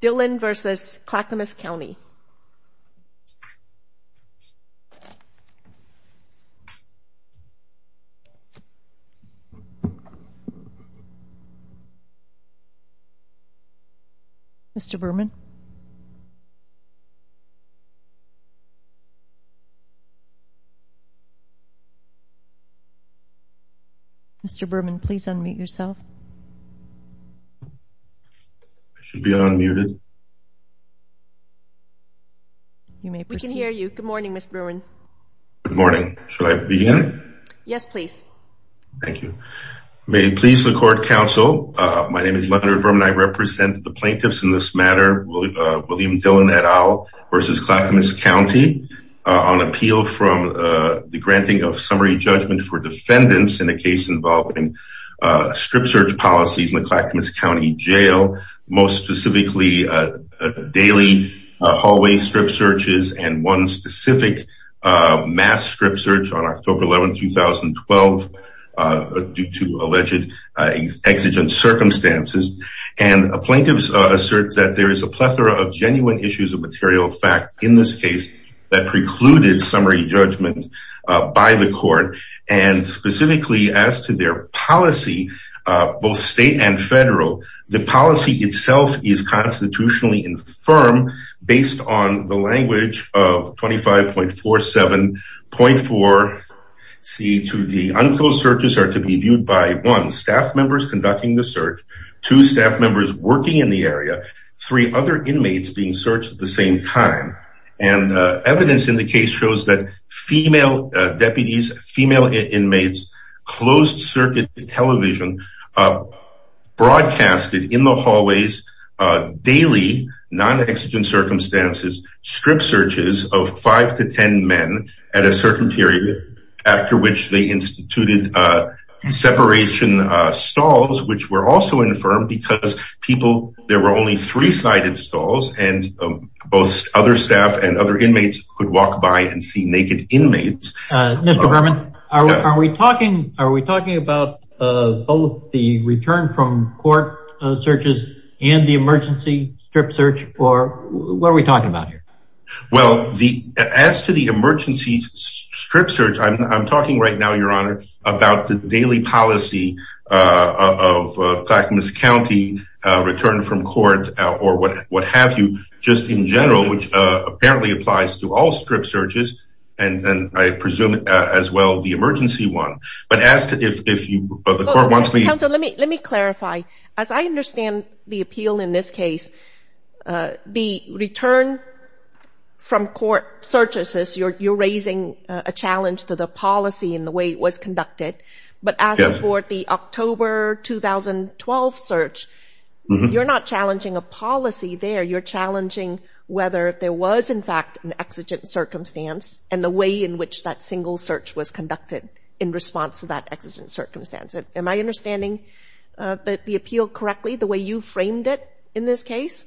Dillon v. Clackamas County Mr. Berman Mr. Berman, please unmute yourself I should be unmuted We can hear you. Good morning, Mr. Berman Good morning. Should I begin? Yes, please Thank you May it please the court, counsel My name is Leonard Berman. I represent the plaintiffs in this matter William Dillon et al. v. Clackamas County on appeal from the granting of summary judgment for defendants in a case involving strip search policies in the Clackamas County Jail most specifically daily hallway strip searches and one specific mass strip search on October 11, 2012 due to alleged exigent circumstances and plaintiffs assert that there is a plethora of genuine issues of material fact in this case that precluded summary judgment by the court and specifically as to their policy, both state and federal the policy itself is constitutionally infirm based on the language of 25.47.4C2D unclosed searches are to be viewed by 1. staff members conducting the search 2. staff members working in the area 3. other inmates being searched at the same time and evidence in the case shows that female deputies, female inmates closed circuit television broadcasted in the hallways daily, non-exigent circumstances strip searches of 5-10 men at a certain period after which they instituted separation stalls which were also infirm because people there were only 3-sided stalls and both other staff and other inmates could walk by and see naked inmates Mr. Berman, are we talking about both the return from court searches and the emergency strip search or what are we talking about here? well, as to the emergency strip search I'm talking right now, your honor about the daily policy of Clackamas County return from court or what have you just in general, which apparently applies to all strip searches and I presume as well the emergency one but as to if the court wants me let me clarify as I understand the appeal in this case the return from court searches you're raising a challenge to the policy and the way it was conducted but as for the October 2012 search you're not challenging a policy there you're challenging whether there was in fact an exigent circumstance and the way in which that single search was conducted in response to that exigent circumstance am I understanding the appeal correctly the way you framed it in this case?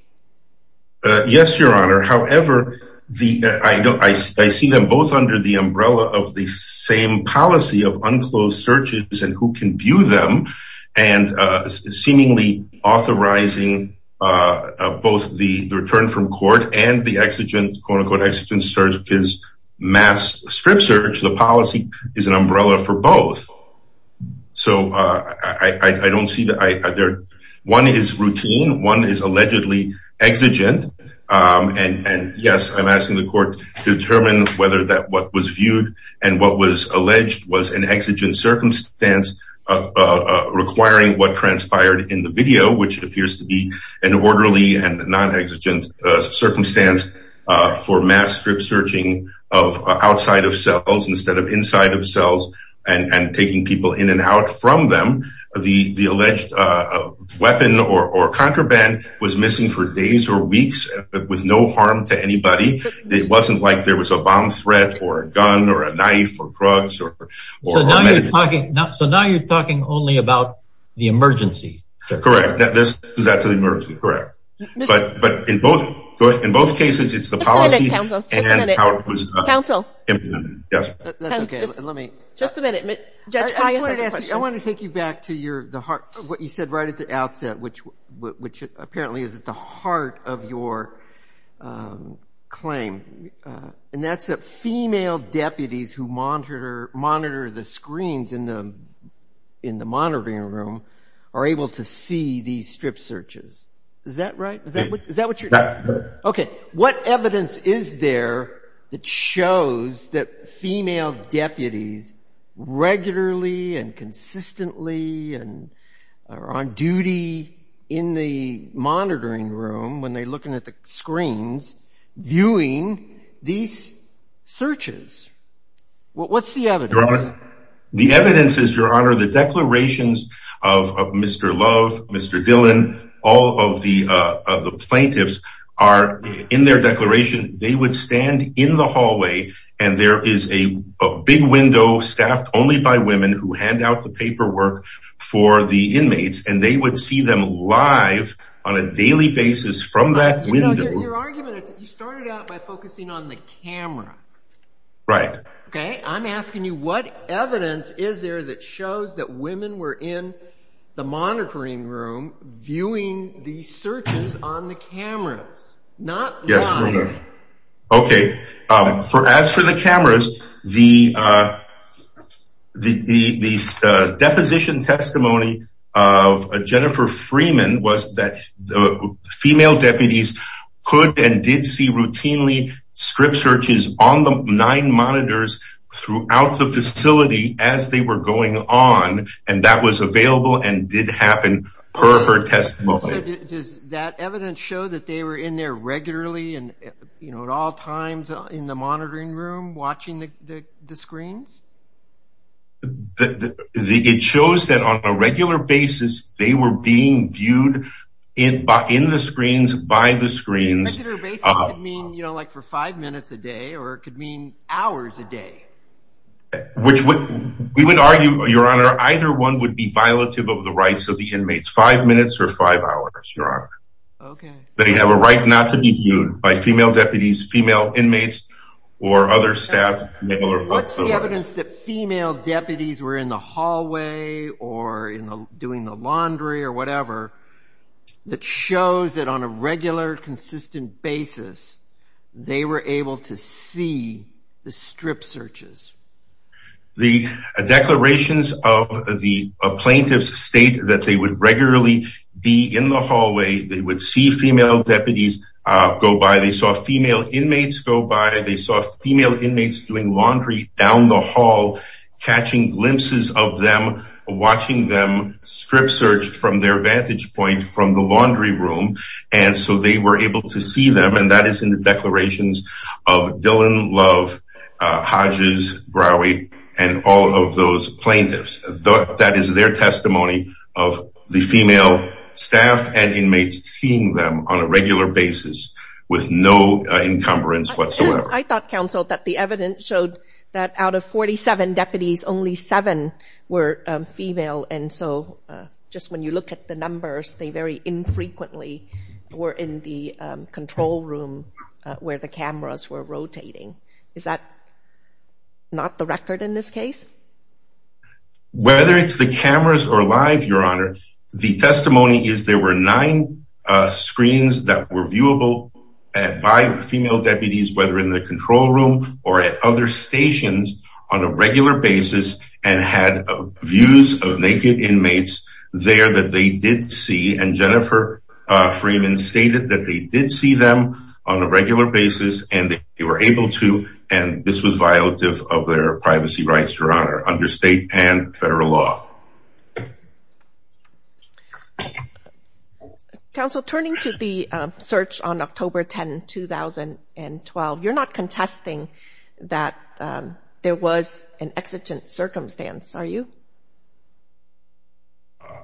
yes, your honor however, I see them both under the umbrella of the same policy of unclosed searches and who can view them and seemingly authorizing both the return from court and the exigent quote-unquote exigent search is mass strip search the policy is an umbrella for both so I don't see that one is routine one is allegedly exigent and yes, I'm asking the court to determine whether what was viewed and what was alleged was an exigent circumstance requiring what transpired in the video which appears to be an orderly and non-exigent circumstance for mass strip searching outside of cells instead of inside of cells and taking people in and out from them the alleged weapon or contraband was missing for days or weeks with no harm to anybody it wasn't like there was a bomb threat or a gun or a knife or drugs so now you're talking only about the emergency correct that's the emergency correct but in both cases it's the policy and how it was implemented that's okay let me just a minute I want to take you back to your what you said right at the outset which apparently is at the heart of your claim and that's that female deputies who monitor the screens in the monitoring room are able to see these strip searches is that right? is that what you're okay that shows that female deputies regularly and consistently and are on duty in the monitoring room when they're looking at the screens viewing these searches what's the evidence? your honor the evidence is your honor the declarations of Mr. Love Mr. Dillon all of the plaintiffs are in their declaration they would stand in the hallway and there is a big window staffed only by women who hand out the paperwork for the inmates and they would see them live on a daily basis from that window your argument is that you started out by focusing on the camera right okay I'm asking you what evidence is there that shows that women were in the monitoring room viewing these searches on the cameras not live okay as for the cameras the deposition testimony of Jennifer Freeman was that female deputies could and did see routinely script searches on the nine monitors throughout the facility as they were going on and that was available and did happen per her testimony so does that evidence show that they were in there regularly and at all times in the monitoring room watching the screens it shows that on a regular basis they were being viewed in the screens by the screens on a regular basis it could mean for five minutes a day or it could mean hours a day which would we would argue your honor either one would be violative of the rights of the inmates five minutes or five hours your honor okay they have a right not to be viewed by female deputies female inmates or other staff what's the evidence that female deputies were in the hallway or in the doing the laundry or whatever that shows that on a regular consistent basis they were able to see the strip searches the declarations of the plaintiffs state that they would regularly be in the hallway they would see female deputies go by they saw female inmates go by they saw female inmates doing laundry down the hall catching glimpses of them watching them strip searched from their vantage point from the laundry room and so they were able to see them and that is in the declarations of Dillon Love Hodges Browy and all of those plaintiffs that is their testimony of the female staff and inmates seeing them on a regular basis with no encumbrance whatsoever I thought council that the evidence showed that out of 47 deputies only 7 were female and so just when you look at the numbers they very infrequently were in the control room where the cameras were rotating is that not the record Whether it's the cameras or live your honor the testimony is there were 9 screens that were viewable by female deputies whether in the control room or in the other stations on a regular basis and had views of naked inmates there that they did see and Jennifer Freeman stated that they did see them on a regular basis and they were able to and this was violative of their privacy rights your honor under state and federal law Council turning to the search on October 10 2012 you're not contesting that there was an exigent circumstance are you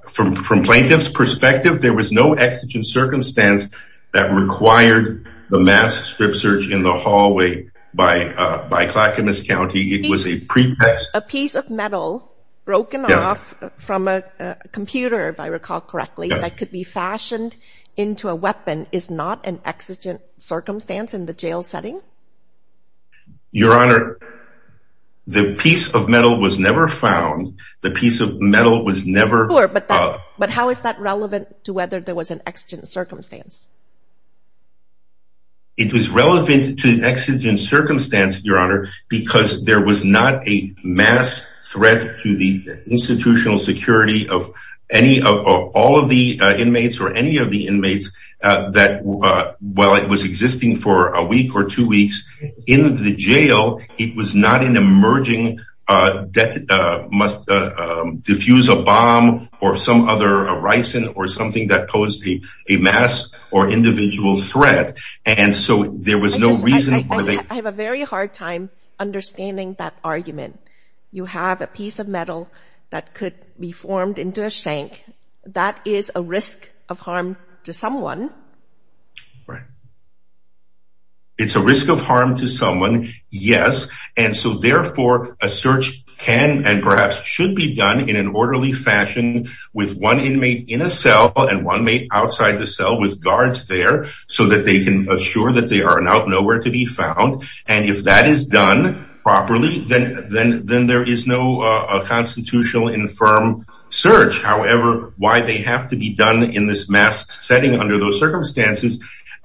from plaintiff's perspective there was no exigent circumstance that required the mass strip search in the hallway by by Clackamas County it was a pretext a piece of metal broken off from a computer if I recall correctly that could be fashioned into a weapon is not an exigent circumstance in the jail setting your honor the piece of metal was never found the piece of metal was never but how is that relevant to whether there was an exigent circumstance it was relevant to exigent circumstance your honor because there was not a mass threat to the safety of the inmates while it was existing for a week or two weeks in the jail it was not an emerging defuse a bomb or something that posed a mass or individual threat and so there was no reason I have a very hard time understanding that argument you have a piece of metal that could be formed into a shank that is a risk of harm to someone right it's a risk of harm to someone yes and so therefore a search can and perhaps should be done in an orderly fashion with one inmate in a cell and one inmate outside the cell with guards there so that they can assure that they are not nowhere to be found and if that is done properly then there is no constitutional infirm search however why they have to be done in this mass setting under those conditions the person is exposed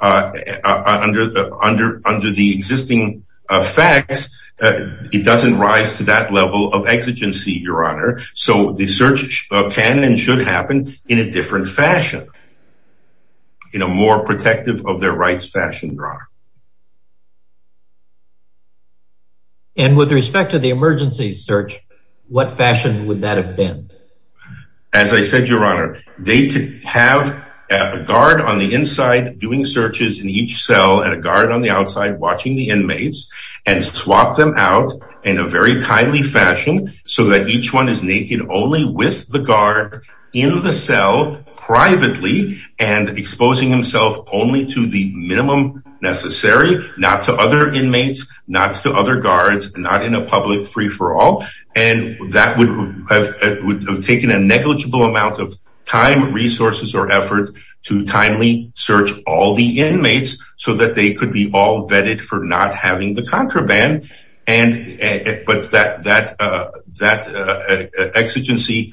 privately and exposing himself only to the minimum necessary not to other inmates not to other guards not in a public free for all and that would have taken a negligible amount of time and resources or effort to timely search all the inmates so that they could be all vetted for not having the contraband but that exigency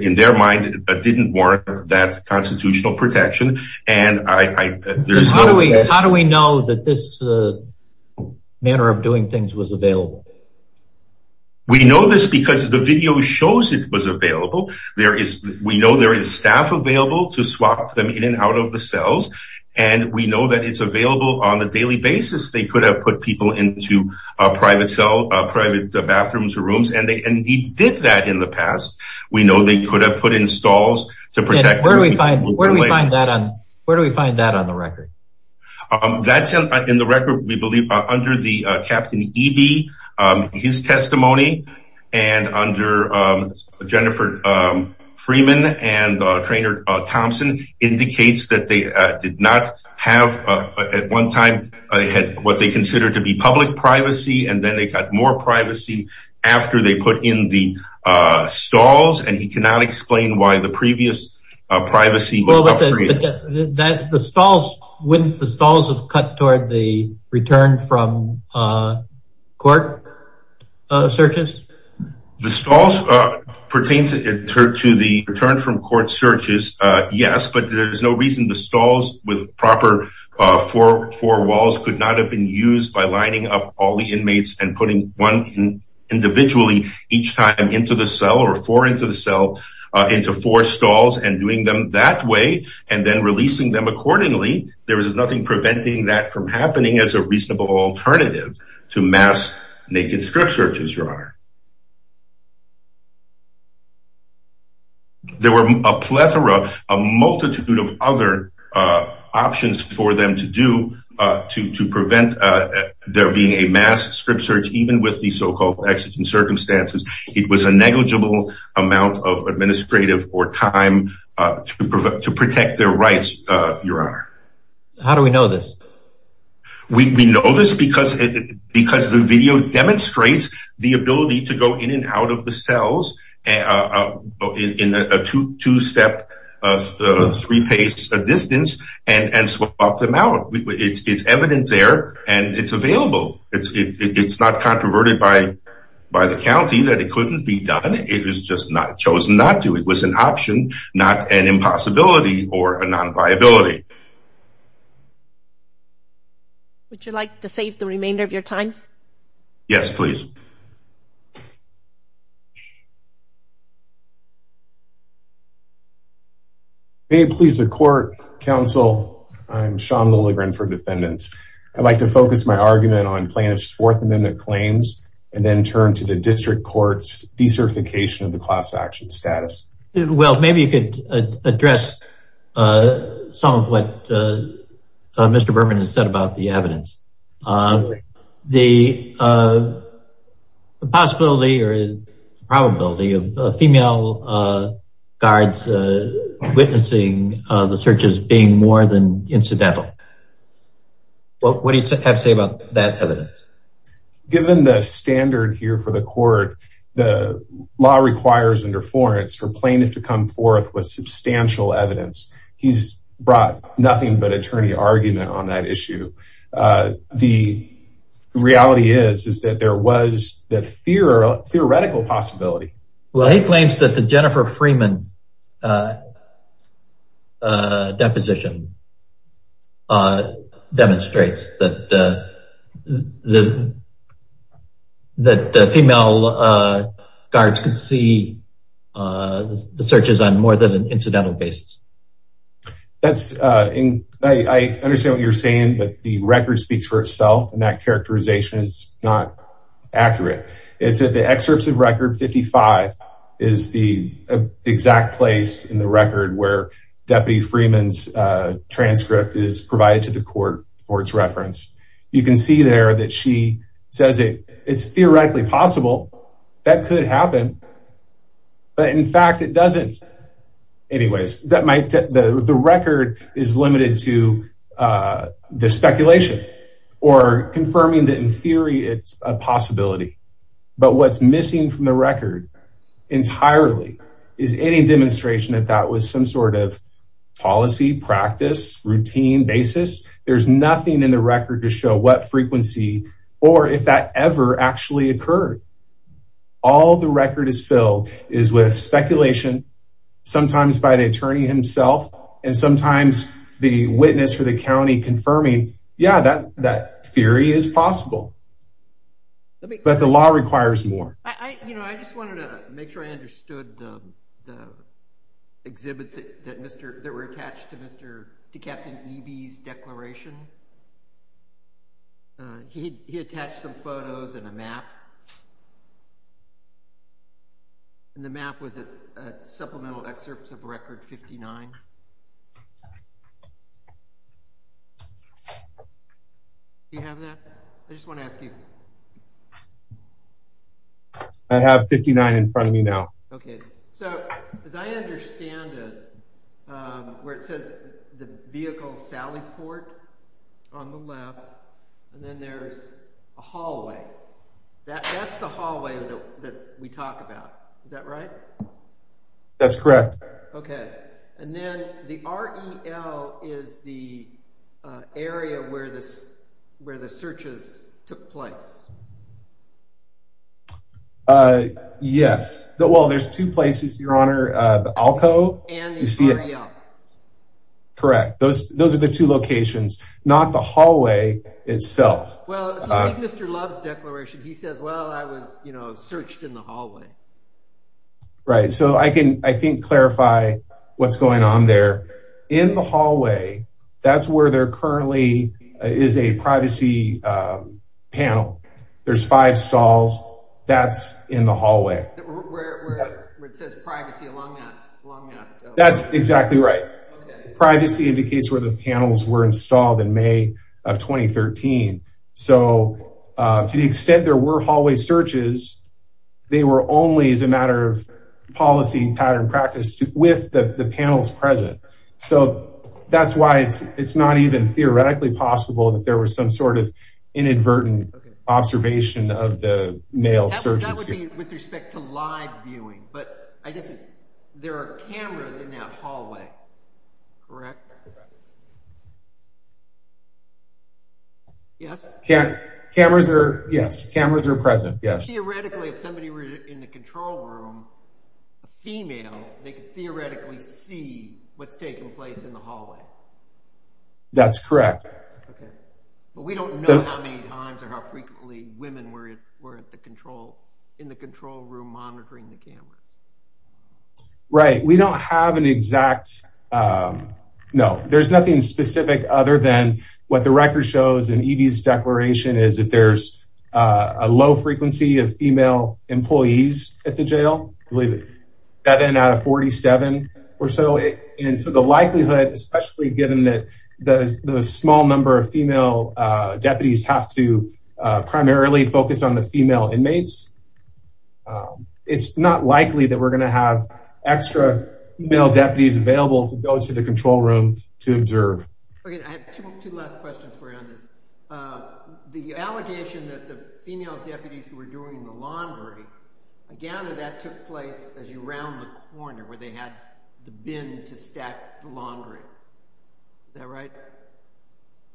in their mind didn't warrant that constitutional protection and how do we know that this manner of doing things was available we know this because the video shows it was available there is we know there is staff available to swap them in and out of the cells and we know that it's available on a daily basis they could have put people into private cell private bathrooms rooms and they did that in the past we know they could have put in stalls to protect them where do we find that on the record that's in the record we believe under the captain E.B. his testimony and under Jennifer Freeman and trainer Thompson indicates that they put in the stalls and he cannot explain why the previous privacy the stalls wouldn't the stalls have cut toward the return from court searches the stalls pertain to the return from court searches there was nothing preventing that from happening as a reasonable alternative to mass naked strip searches your honor there were a plethora a multitude of other options for them to do to prevent there being a mass strip search even with the so-called exigent circumstances it was a negligible amount of administrative or time to protect their rights your honor how do we know this we know this because the video demonstrates the ability to go in and out of the cells in a two step three pace distance and swap them out it's evidence there and it's available it's not controverted by the county that it couldn't be done it was an option not an impossibility or a non-viability would you like to save the remainder of your time yes please may it please the court counsel I'm Sean Lilligren for defendants I'd like to focus my argument on plaintiff's fourth amendment claims and then turn to the district court's decertification of the class action status well maybe you could address some of what Mr. Berman has said about the evidence the possibility or probability of female guards witnessing the searches being more than incidental what do you have to say about that evidence given the standard here for the court the law requires under Florence for plaintiff to come forth with substantial evidence he's brought nothing but attorney argument on that issue the reality is that there was theoretical possibility he claims that the Jennifer Freeman deposition that the female guards could see the searches on more than incidental basis I understand what you're saying but the record speaks for itself and that characterization is not accurate it's at the excerpts of record 55 is the exact place in the record where deputy Freeman's transcript is provided to the court for its reference you can see there that she says it's theoretically possible that could happen but in fact it is not theoretically it's a possibility but what's missing from the record entirely is any demonstration that that was some sort of policy practice routine basis there's nothing in the record to show what frequency or if that ever actually occurred all the record is filled is filled with speculation sometimes by the attorney himself and sometimes the witness for the county confirming yeah that theory is possible but the law requires more I just wanted to make sure I understood the exhibits that were attached to captain Eby's declaration he attached some photos and a map and the map was a supplemental excerpts of record 59 do you have that I just want to ask you I have 59 in front of me now okay so as I understand it where it says the vehicle sally port on the left and then there's a hallway that's the hallway that we talk about is that right that's correct okay and then the REL is the area where this where the searches took place yes well there's two places your honor the ALCO and the REL correct those those are the two locations not the hallway itself well Mr. Love's declaration he says well I was you know searched in the hallway right so I can I think clarify what's going on there in the hallway that's where there currently is a privacy panel there's five stalls that's in the hallway where it says privacy along that so to the extent there were hallway searches they were only as a matter of policy pattern practice with the panels present so that's why it's not even theoretically possible that there was some sort of inadvertent observation of the male search that would be with respect to live viewing but I guess there are cameras in that hallway correct yes cameras are yes cameras are present yes theoretically if somebody were in the control room female they could theoretically see what's taking place in the hallway that's correct okay but we don't know how many times or how frequently women were in the control room monitoring the cameras right so we don't have an exact no there's nothing specific other than what the record shows in EVs declaration is that there's a low frequency of female employees at the jail believe it that in out of 47 or so and so the likelihood especially given that the small number of female deputies have to primarily focus on the male deputies available to go to the control room to observe okay I have two last questions for you on this uh the allegation that the female deputies were doing the laundry again that took place as you round the corner where they had the bin to stack the laundry is that right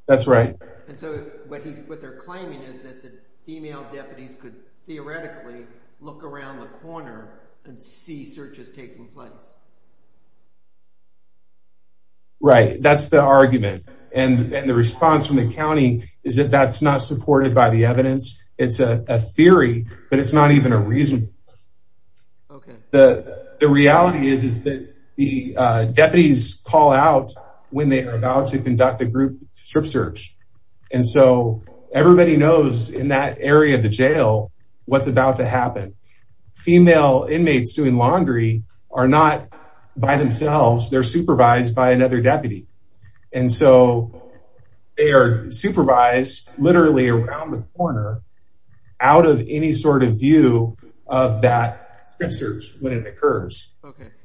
that's right and so what they're claiming is that the female deputies could theoretically look around the corner and see searches taking place right that's the argument and the response from the county is that that's not supported by the evidence it's a theory but it's not even a reason the reality is that the deputies call out when they are about to conduct a group strip search and so everybody knows in that area of the jail what's about to happen female inmates doing laundry are not by themselves they're supervised by another deputy and so they are supervised literally around the corner out of any sort of view of that strip search when it occurs that's evidence the reality is that the deputies call out when they are about to conduct a group strip search and so everybody knows in that area the reality is that the deputies call out when they are about to conduct a group strip search when it occurs that the deputies call out when they are about to conduct a group strip search when it occurs they about to conduct a group when it occurs that the particular deputies call out when they are about to conduct a group strip search when it occurs that the violence takes up stipend and they don't need sex control or occupational disability courts or health court the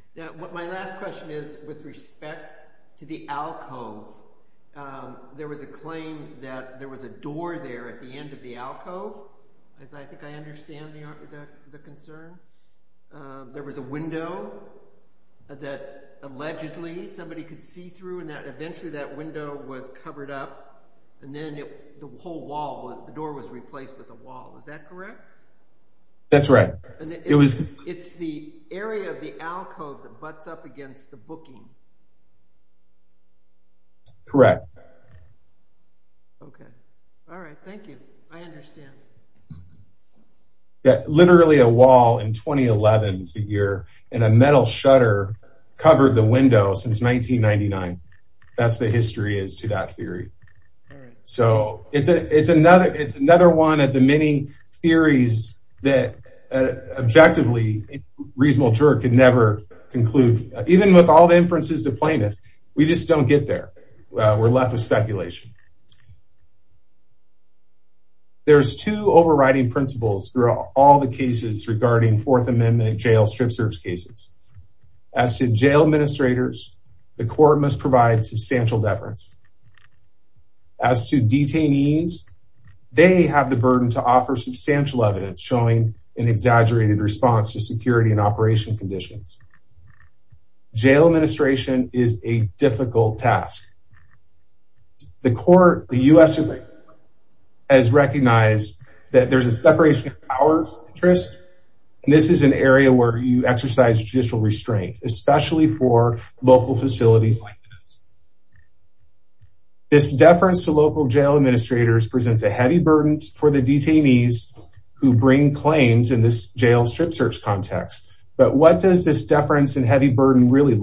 United States or any area where you exercise judicial restraint especially for facilities like this this presents a heavy burden for the detectives what does it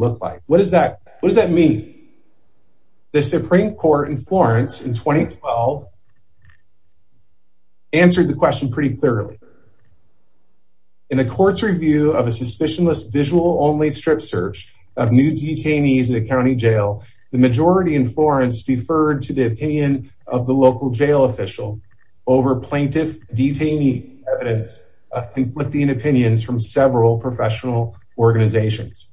look like what does it mean the Supreme Court in Florence answered the court's review of a strip search the majority in Florence deferred to the opinion of the local jail official over plaintiff detainee evidence from several professional organizations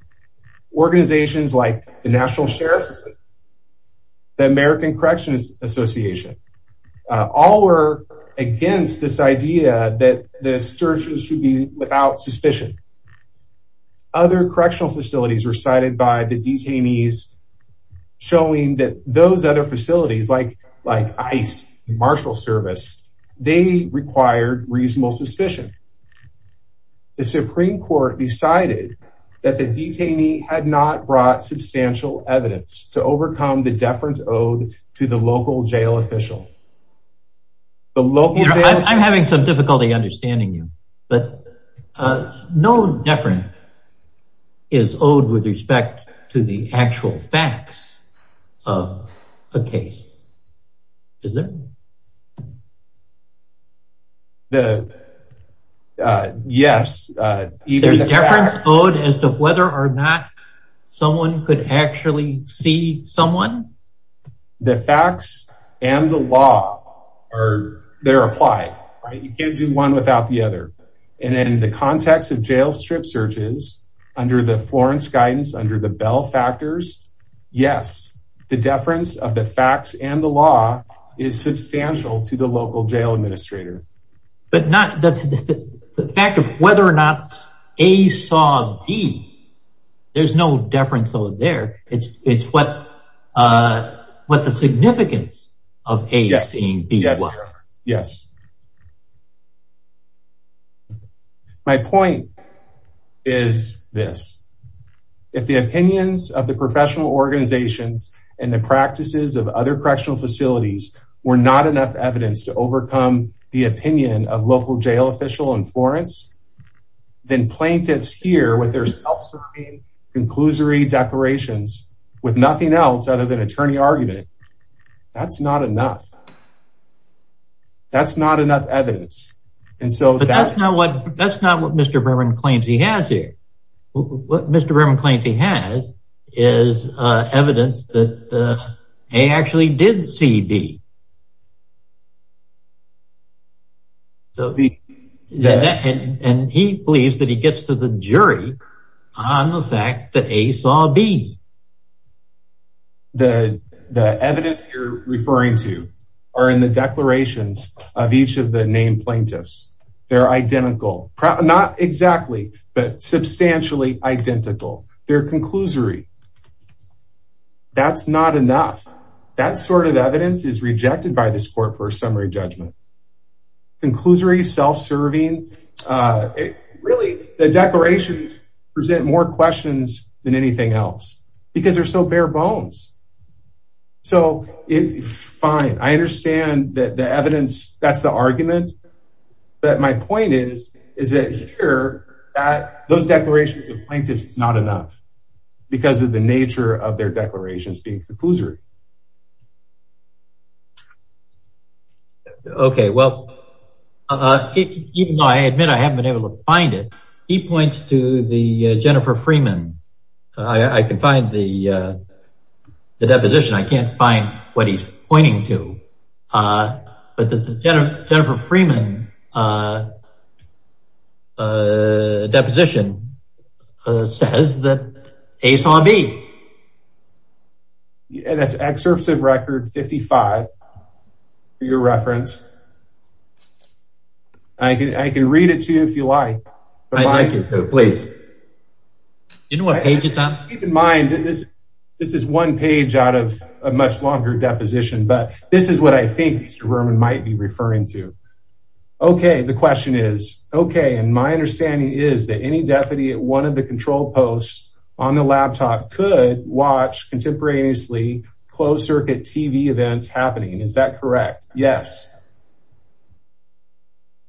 organizations like the national sheriff's association all were against this idea that the searches should be without suspicion other correctional facilities were cited by the detainees showing that those other facilities like like ICE marshal service they required reasonable suspicion the Supreme Court decided that the detainee had not brought substantial evidence to overcome the deference owed to the local jail official the local jail I'm having some difficulty understanding you. But no deference is owed with respect to the actual facts of the case. Is there? Yes. The deference owed as to whether or not someone could actually see someone? The facts and the law are they're substantial to the local jail administrator. But not the fact of whether or not A saw B there's no deference owed there. It's what the significance of A seeing B was. Yes. My point is this. If the opinions of the professional organizations and the practices of other correctional facilities were not enough evidence to overcome the opinion of local jail officials then plaintiffs here with their declarations with nothing else other than attorney argument that's not enough. That's not enough evidence. That's not what Mr. Berman claims he has here. What Mr. Berman claims he has is evidence that A actually did see B. And he believes that he gets to the jury on the fact that A saw B. The evidence you're referring to are in the declarations of each of the named plaintiffs. They're identical. Not exactly, but substantially identical. They're conclusory. That's not enough. That sort of evidence is rejected by this court for a summary judgment. Conclusory, self-serving, really, the declarations present more questions than anything else because they're so bare bones. So, fine, I understand that the evidence, that's the argument. But my point is, is that here, those declarations of plaintiffs is not enough because of the nature of their declarations being conclusory. Okay, well, even though I admit I haven't been able to find it, he points to the Jennifer Freeman. I can find the deposition. I can't find what he's pointing to. But the Jennifer Freeman deposition says that A saw B. That's excerpts of record 55, for your reference. I can read it to you if you like, but I can't read it to you don't like it. Please. Do you know what page it's on? Keep in mind, this is one page out of a much longer deposition, but this is what I think Mr. Verman might be referring to. Okay, the question is, okay, and my understanding is that any deputy at one of the control posts on the laptop could watch contemporaneously closed-circuit TV events happening, is that correct? Yes.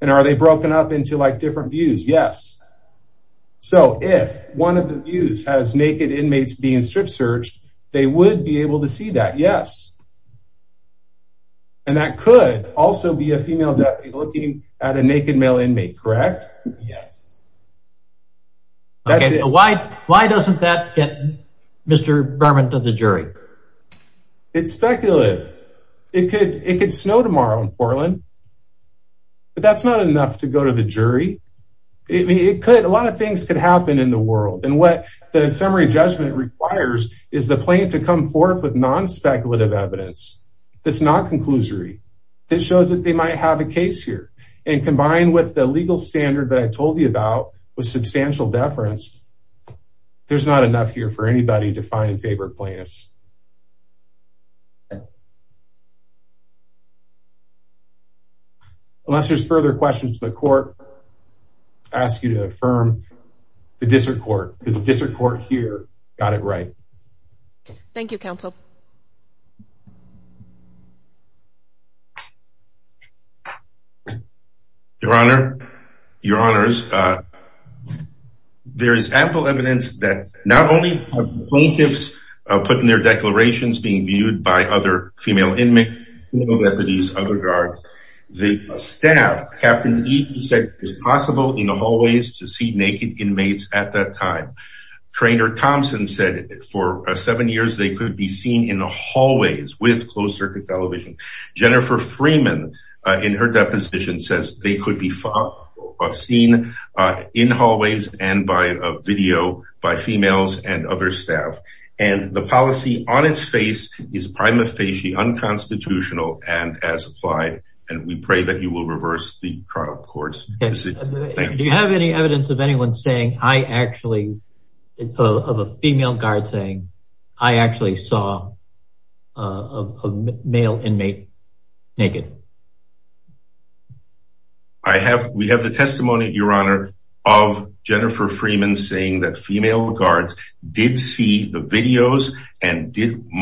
And are they broken up into different views? Yes. So if one of the views has naked inmates being strip searched, they would be able to see that, yes. And that could also be a female deputy looking at a naked male inmate, correct? Yes. Why doesn't that get Mr. Verman to the jury? It's speculative. It could snow tomorrow in Portland, but that's not enough to go to the jury. A lot of things could happen in the world, and what the summary judgment requires is the plaintiff to come forth with non-speculative evidence that's not conclusory, that shows that they might have a case here. And combined with the legal standard that I told you about with substantial deference, there's not enough here for anybody to find and favor plaintiffs. Unless there's further questions to the court, I ask you to affirm the district court, because the district court here got it right. Thank you, counsel. Your honor, your honors, there is ample evidence that not only have plaintiffs put in their declarations being viewed by other female deputies under guard, the staff, and police department as well. Captain E said it was possible to see naked inmates at that time. Trainer Thompson said they could be seen in the hallways with closed circuit television. Jennifer Freeman says they could be seen in hallways and the police department with closed circuit television with closed circuit television with closed circuits. We pray that you will reverse the trial court decision. Thank you. Do you have any evidence that you so, please let us know. Thank you. Thank you. Thank you. Thank you. Thank you. Thank you. Thank you. Thank you. Thank you. you. Thank you very much. I hope we can put things on the next page. There were three can do together. Thank you.